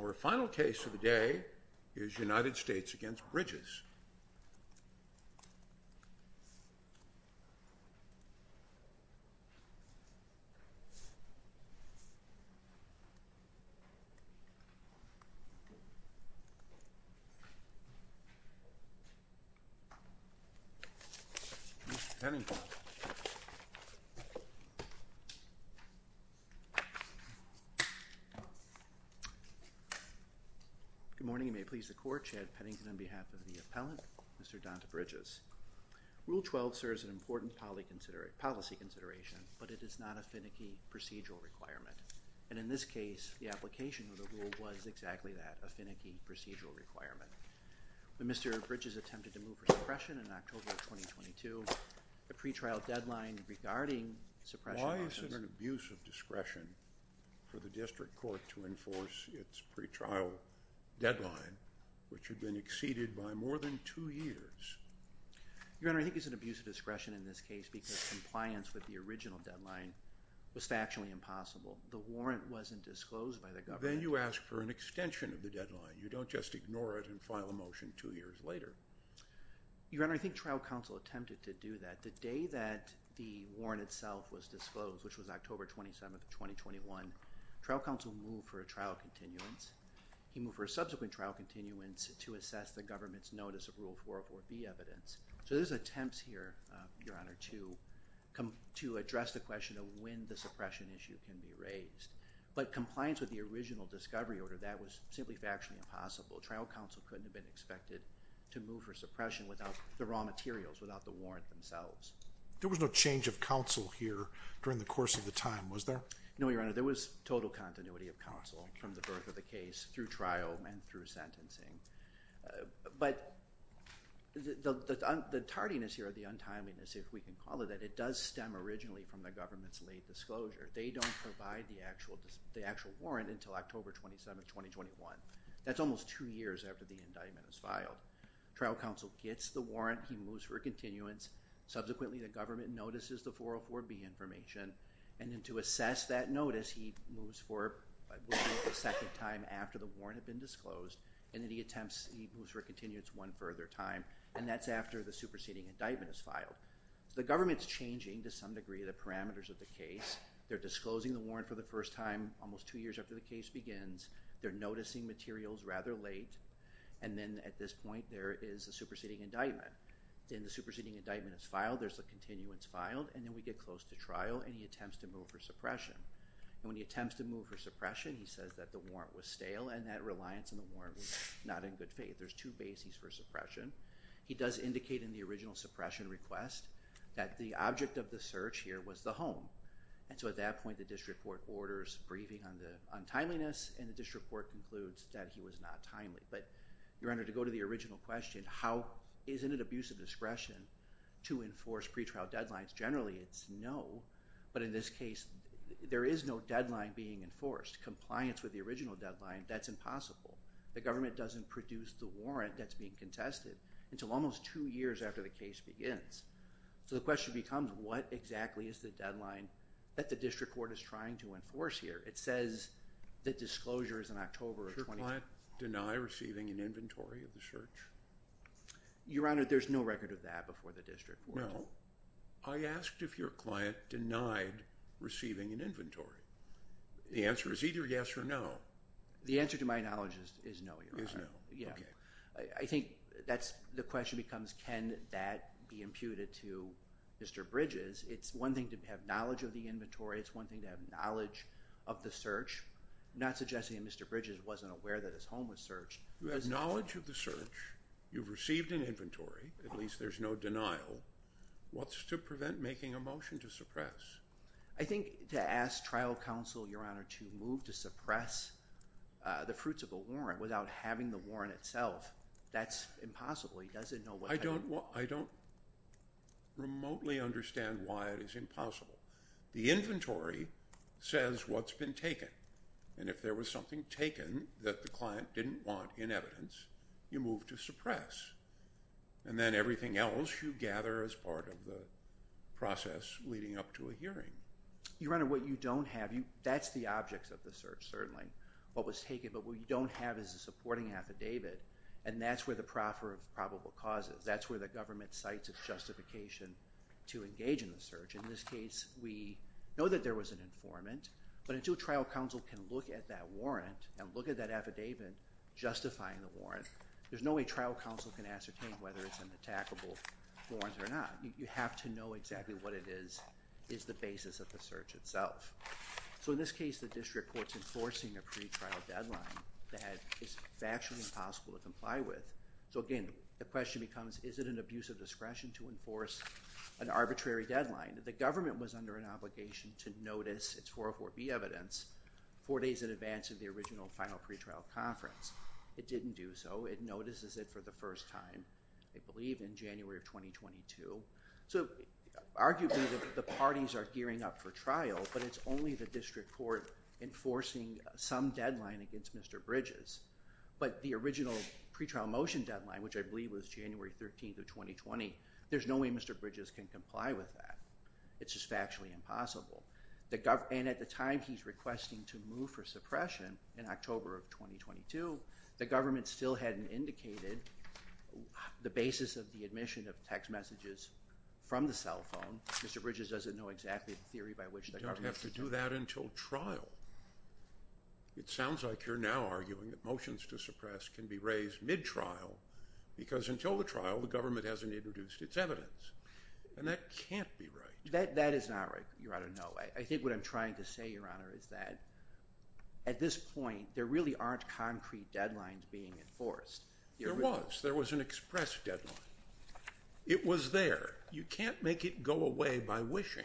Our final case of the day is United States v. Bridges. Good morning and may it please the court, Chad Pennington on behalf of the appellant, Mr. Donta Bridges. Rule 12 serves an important policy consideration, but it is not a finicky procedural requirement. And in this case, the application of the rule was exactly that, a finicky procedural requirement. When Mr. Bridges attempted to move for suppression in October of 2022, the pre-trial deadline regarding suppression… Isn't it an abuse of discretion for the district court to enforce its pre-trial deadline, which had been exceeded by more than two years? Your Honor, I think it's an abuse of discretion in this case because compliance with the original deadline was factually impossible. The warrant wasn't disclosed by the government. Then you ask for an extension of the deadline. You don't just ignore it and file a motion two years later. Your Honor, I think trial counsel attempted to do that. The day that the warrant itself was disclosed, which was October 27, 2021, trial counsel moved for a trial continuance. He moved for a subsequent trial continuance to assess the government's notice of Rule 404B evidence. So there's attempts here, Your Honor, to address the question of when the suppression issue can be raised. But compliance with the original discovery order, that was simply factually impossible. Trial counsel couldn't have been expected to move for suppression without the raw materials, without the warrant themselves. There was no change of counsel here during the course of the time, was there? No, Your Honor. There was total continuity of counsel from the birth of the case through trial and through sentencing. But the tardiness here, the untimeliness, if we can call it that, it does stem originally from the government's late disclosure. They don't provide the actual warrant until October 27, 2021. That's almost two years after the indictment is filed. Trial counsel gets the warrant. He moves for a continuance. Subsequently, the government notices the 404B information. And then to assess that notice, he moves for a second time after the warrant had been disclosed. And then he moves for a continuance one further time. And that's after the superseding indictment is filed. The government's changing, to some degree, the parameters of the case. They're disclosing the warrant for the first time almost two years after the case begins. They're noticing materials rather late. And then at this point, there is a superseding indictment. Then the superseding indictment is filed. There's a continuance filed. And then we get close to trial, and he attempts to move for suppression. And when he attempts to move for suppression, he says that the warrant was stale and that reliance on the warrant was not in good faith. There's two bases for suppression. He does indicate in the original suppression request that the object of the search here was the home. And so at that point, the district court orders briefing on timeliness. And the district court concludes that he was not timely. But, Your Honor, to go to the original question, isn't it abusive discretion to enforce pretrial deadlines? Generally, it's no. But in this case, there is no deadline being enforced. Compliance with the original deadline, that's impossible. The government doesn't produce the warrant that's being contested until almost two years after the case begins. So the question becomes, what exactly is the deadline that the district court is trying to enforce here? It says that disclosure is in October of 2020. Did your client deny receiving an inventory of the search? Your Honor, there's no record of that before the district court. No. I asked if your client denied receiving an inventory. The answer is either yes or no. The answer, to my knowledge, is no, Your Honor. Is no. Okay. I think the question becomes, can that be imputed to Mr. Bridges? It's one thing to have knowledge of the inventory. It's one thing to have knowledge of the search. I'm not suggesting that Mr. Bridges wasn't aware that his home was searched. You have knowledge of the search. You've received an inventory. At least there's no denial. What's to prevent making a motion to suppress? I think to ask trial counsel, Your Honor, to move to suppress the fruits of a warrant without having the warrant itself, that's impossible. He doesn't know what that means. I don't remotely understand why it is impossible. The inventory says what's been taken. And if there was something taken that the client didn't want in evidence, you move to suppress. And then everything else you gather as part of the process leading up to a hearing. Your Honor, what you don't have, that's the objects of the search, certainly, what was taken. But what you don't have is a supporting affidavit, and that's where the proffer of probable cause is. That's where the government cites a justification to engage in the search. In this case, we know that there was an informant. But until trial counsel can look at that warrant and look at that affidavit justifying the warrant, there's no way trial counsel can ascertain whether it's an attackable warrant or not. You have to know exactly what it is, is the basis of the search itself. So in this case, the district court's enforcing a pretrial deadline that is factually impossible to comply with. So, again, the question becomes, is it an abuse of discretion to enforce an arbitrary deadline? The government was under an obligation to notice its 404B evidence four days in advance of the original final pretrial conference. It didn't do so. It notices it for the first time, I believe, in January of 2022. So arguably the parties are gearing up for trial, but it's only the district court enforcing some deadline against Mr. Bridges. But the original pretrial motion deadline, which I believe was January 13th of 2020, there's no way Mr. Bridges can comply with that. It's just factually impossible. And at the time he's requesting to move for suppression, in October of 2022, the government still hadn't indicated the basis of the admission of text messages from the cell phone. Mr. Bridges doesn't know exactly the theory by which the government's doing it. You don't have to do that until trial. It sounds like you're now arguing that motions to suppress can be raised mid-trial because until the trial, the government hasn't introduced its evidence. And that can't be right. That is not right, Your Honor. No. I think what I'm trying to say, Your Honor, is that at this point, there really aren't concrete deadlines being enforced. There was. There was an express deadline. It was there. You can't make it go away by wishing.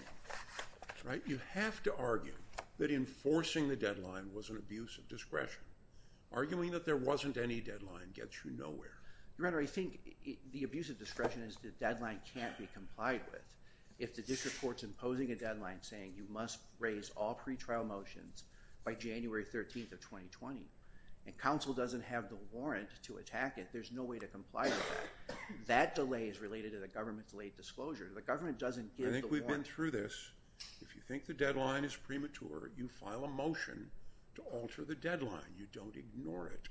You have to argue that enforcing the deadline was an abuse of discretion. Arguing that there wasn't any deadline gets you nowhere. Your Honor, I think the abuse of discretion is the deadline can't be complied with if the district court's imposing a deadline saying you must raise all pretrial motions by January 13th of 2020. And counsel doesn't have the warrant to attack it. There's no way to comply with that. That delay is related to the government's late disclosure. The government doesn't give the warrant. I think we've been through this. If you think the deadline is premature, you file a motion to alter the deadline. You don't ignore it.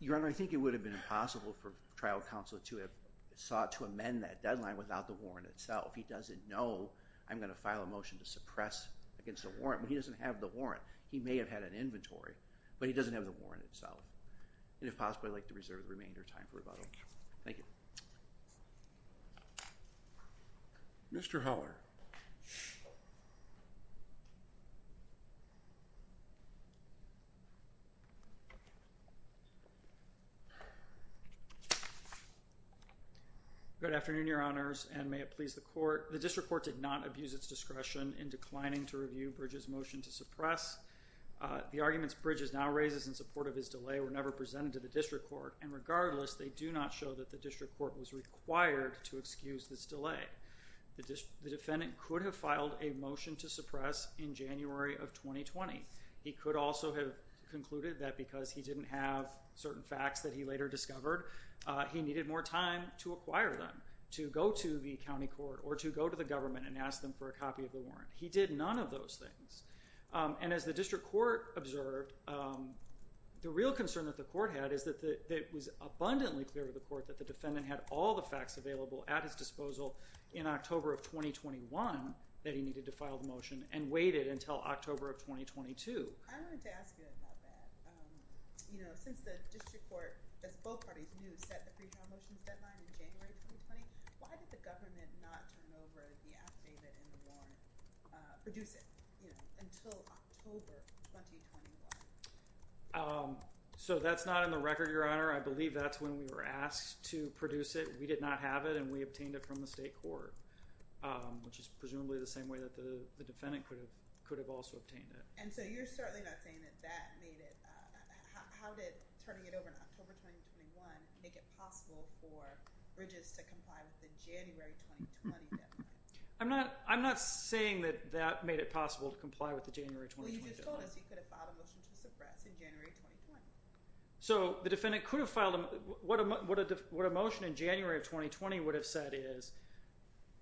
Your Honor, I think it would have been impossible for trial counsel to have sought to amend that deadline without the warrant itself. He doesn't know I'm going to file a motion to suppress against a warrant. But he doesn't have the warrant. He may have had an inventory, but he doesn't have the warrant itself. And if possible, I'd like to reserve the remainder of time for rebuttal. Thank you. Mr. Heller. Good afternoon, Your Honors, and may it please the Court. The district court did not abuse its discretion in declining to review Bridges' motion to suppress. The arguments Bridges now raises in support of his delay were never presented to the district court. And regardless, they do not show that the district court was required to excuse this delay. The defendant could have filed a motion to suppress in January of 2020. He could also have concluded that because he didn't have certain facts that he later discovered, he needed more time to acquire them, to go to the county court, or to go to the government and ask them for a copy of the warrant. He did none of those things. And as the district court observed, the real concern that the court had is that it was abundantly clear to the court that the defendant had all the facts available at his disposal in October of 2021 that he needed to file the motion and waited until October of 2022. I wanted to ask you about that. You know, since the district court, as both parties knew, set the pre-trial motions deadline in January 2020, why did the government not turn over the affidavit and the warrant, produce it, you know, until October 2021? So that's not in the record, Your Honor. I believe that's when we were asked to produce it. We did not have it, and we obtained it from the state court, which is presumably the same way that the defendant could have also obtained it. And so you're certainly not saying that that made it – how did turning it over in October 2021 make it possible for Bridges to comply with the January 2020 deadline? I'm not saying that that made it possible to comply with the January 2020 deadline. Well, you just told us he could have filed a motion to suppress in January 2020. So the defendant could have filed – what a motion in January of 2020 would have said is,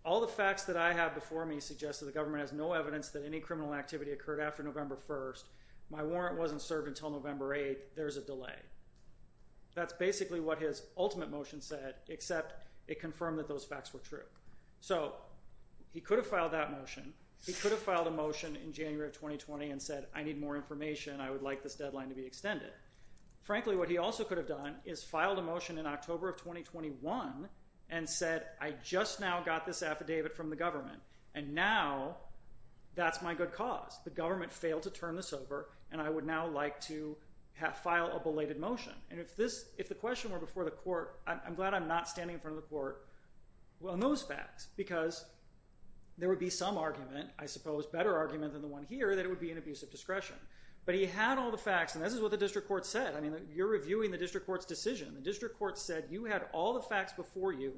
all the facts that I have before me suggest that the government has no evidence that any criminal activity occurred after November 1st. My warrant wasn't served until November 8th. There's a delay. That's basically what his ultimate motion said, except it confirmed that those facts were true. So he could have filed that motion. He could have filed a motion in January of 2020 and said, I need more information. I would like this deadline to be extended. Frankly, what he also could have done is filed a motion in October of 2021 and said, I just now got this affidavit from the government, and now that's my good cause. The government failed to turn this over, and I would now like to file a belated motion. And if the question were before the court, I'm glad I'm not standing in front of the court on those facts, because there would be some argument, I suppose better argument than the one here, that it would be an abuse of discretion. But he had all the facts, and this is what the district court said. I mean, you're reviewing the district court's decision. The district court said you had all the facts before you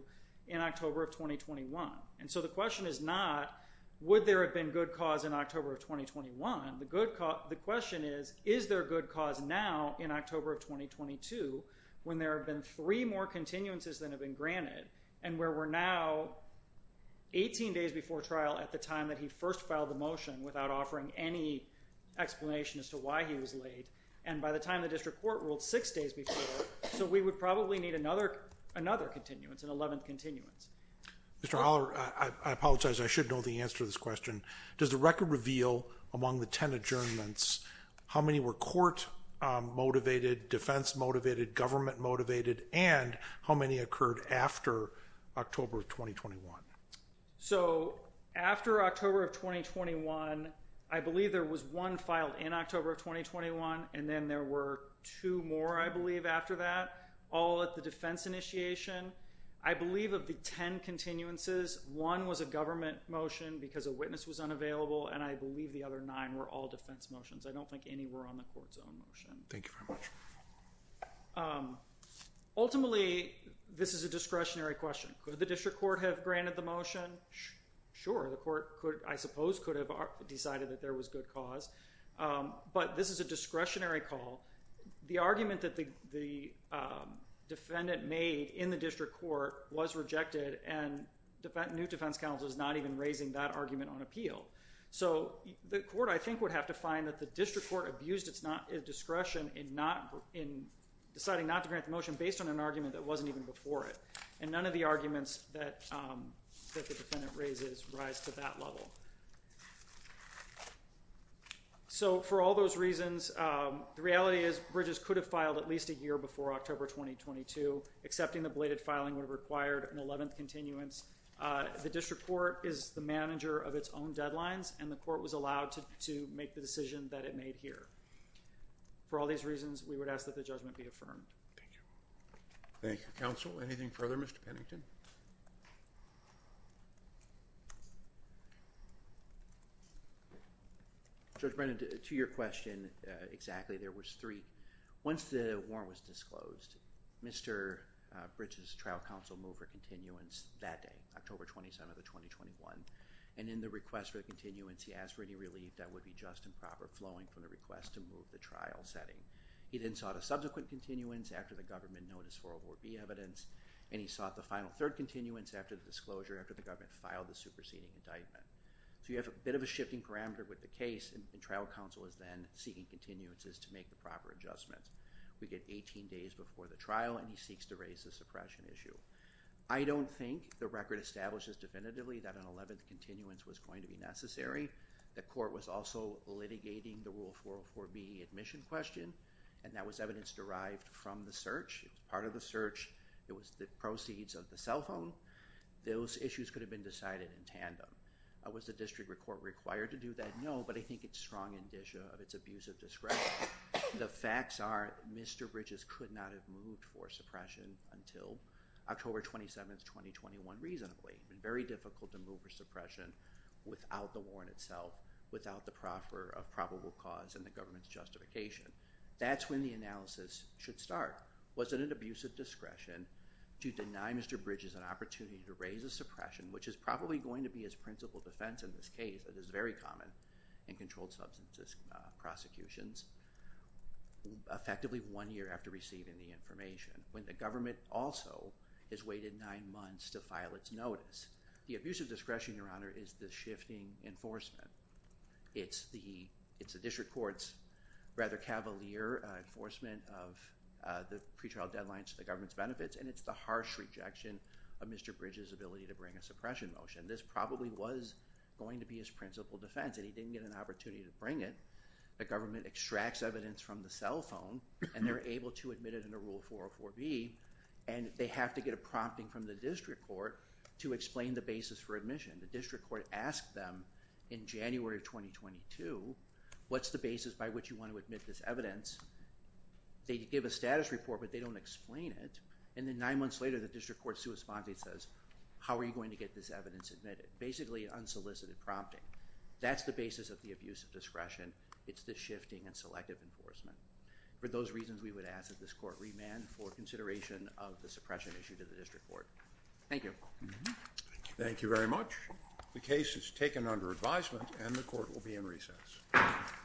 in October of 2021. And so the question is not, would there have been good cause in October of 2021? The question is, is there good cause now in October of 2022 when there have been three more continuances than have been granted and where we're now 18 days before trial at the time that he first filed the motion without offering any explanation as to why he was late. And by the time the district court ruled six days before, so we would probably need another continuance, an 11th continuance. Mr. Holler, I apologize, I should know the answer to this question. Does the record reveal among the 10 adjournments, how many were court motivated, defense motivated, government motivated, and how many occurred after October of 2021? So after October of 2021, I believe there was one filed in October of 2021, and then there were two more, I believe, after that, all at the defense initiation. I believe of the 10 continuances, one was a government motion because a witness was unavailable, and I believe the other nine were all defense motions. I don't think any were on the court's own motion. Thank you very much. Ultimately, this is a discretionary question. Could the district court have granted the motion? Sure. The court, I suppose, could have decided that there was good cause. But this is a discretionary call. The argument that the defendant made in the district court was rejected, and new defense counsel is not even raising that argument on appeal. So the court, I think, would have to find that the district court abused its discretion in deciding not to grant the motion based on an argument that wasn't even before it. And none of the arguments that the defendant raises rise to that level. So for all those reasons, the reality is Bridges could have filed at least a year before October 2022. Accepting the belated filing would have required an 11th continuance. The district court is the manager of its own deadlines, and the court was allowed to make the decision that it made here. For all these reasons, we would ask that the judgment be affirmed. Thank you. Thank you, counsel. Anything further, Mr. Pennington? Judge Brennan, to your question, exactly. There was three. Once the warrant was disclosed, Mr. Bridges' trial counsel moved for continuance that day, October 27th of 2021. And in the request for the continuance, he asked for any relief that would be just and proper flowing from the request to move the trial setting. He then sought a subsequent continuance after the government noticed 404B evidence, and he sought the final third continuance after the disclosure after the government filed the superseding indictment. So you have a bit of a shifting parameter with the case, and trial counsel is then seeking continuances to make the proper adjustments. We get 18 days before the trial, and he seeks to raise the suppression issue. I don't think the record establishes definitively that an 11th continuance was going to be necessary. The court was also litigating the Rule 404B admission question, and that was evidence derived from the search. It was part of the search. It was the proceeds of the cell phone. Those issues could have been decided in tandem. Was the district court required to do that? No, but I think it's strong indicia of its abuse of discretion. The facts are Mr. Bridges could not have moved for suppression until October 27th, 2021, reasonably. It would have been very difficult to move for suppression without the warrant itself, without the proffer of probable cause and the government's justification. That's when the analysis should start. Was it an abuse of discretion to deny Mr. Bridges an opportunity to raise the suppression, which is probably going to be his principal defense in this case, that is very common in controlled substances prosecutions, effectively one year after receiving the information, when the government also has waited nine months to file its notice? The abuse of discretion, Your Honor, is the shifting enforcement. It's the district court's rather cavalier enforcement of the pretrial deadlines to the government's benefits, and it's the harsh rejection of Mr. Bridges' ability to bring a suppression motion. This probably was going to be his principal defense, and he didn't get an opportunity to bring it. The government extracts evidence from the cell phone, and they're able to admit it in a Rule 404B, and they have to get a prompting from the district court to explain the basis for admission. The district court asked them in January of 2022, what's the basis by which you want to admit this evidence? They give a status report, but they don't explain it, and then nine months later, the district court's response says, how are you going to get this evidence admitted? Basically unsolicited prompting. That's the basis of the abuse of discretion. It's the shifting and selective enforcement. For those reasons, we would ask that this court remand for consideration of the suppression issue to the district court. Thank you. Thank you very much. The case is taken under advisement, and the court will be in recess.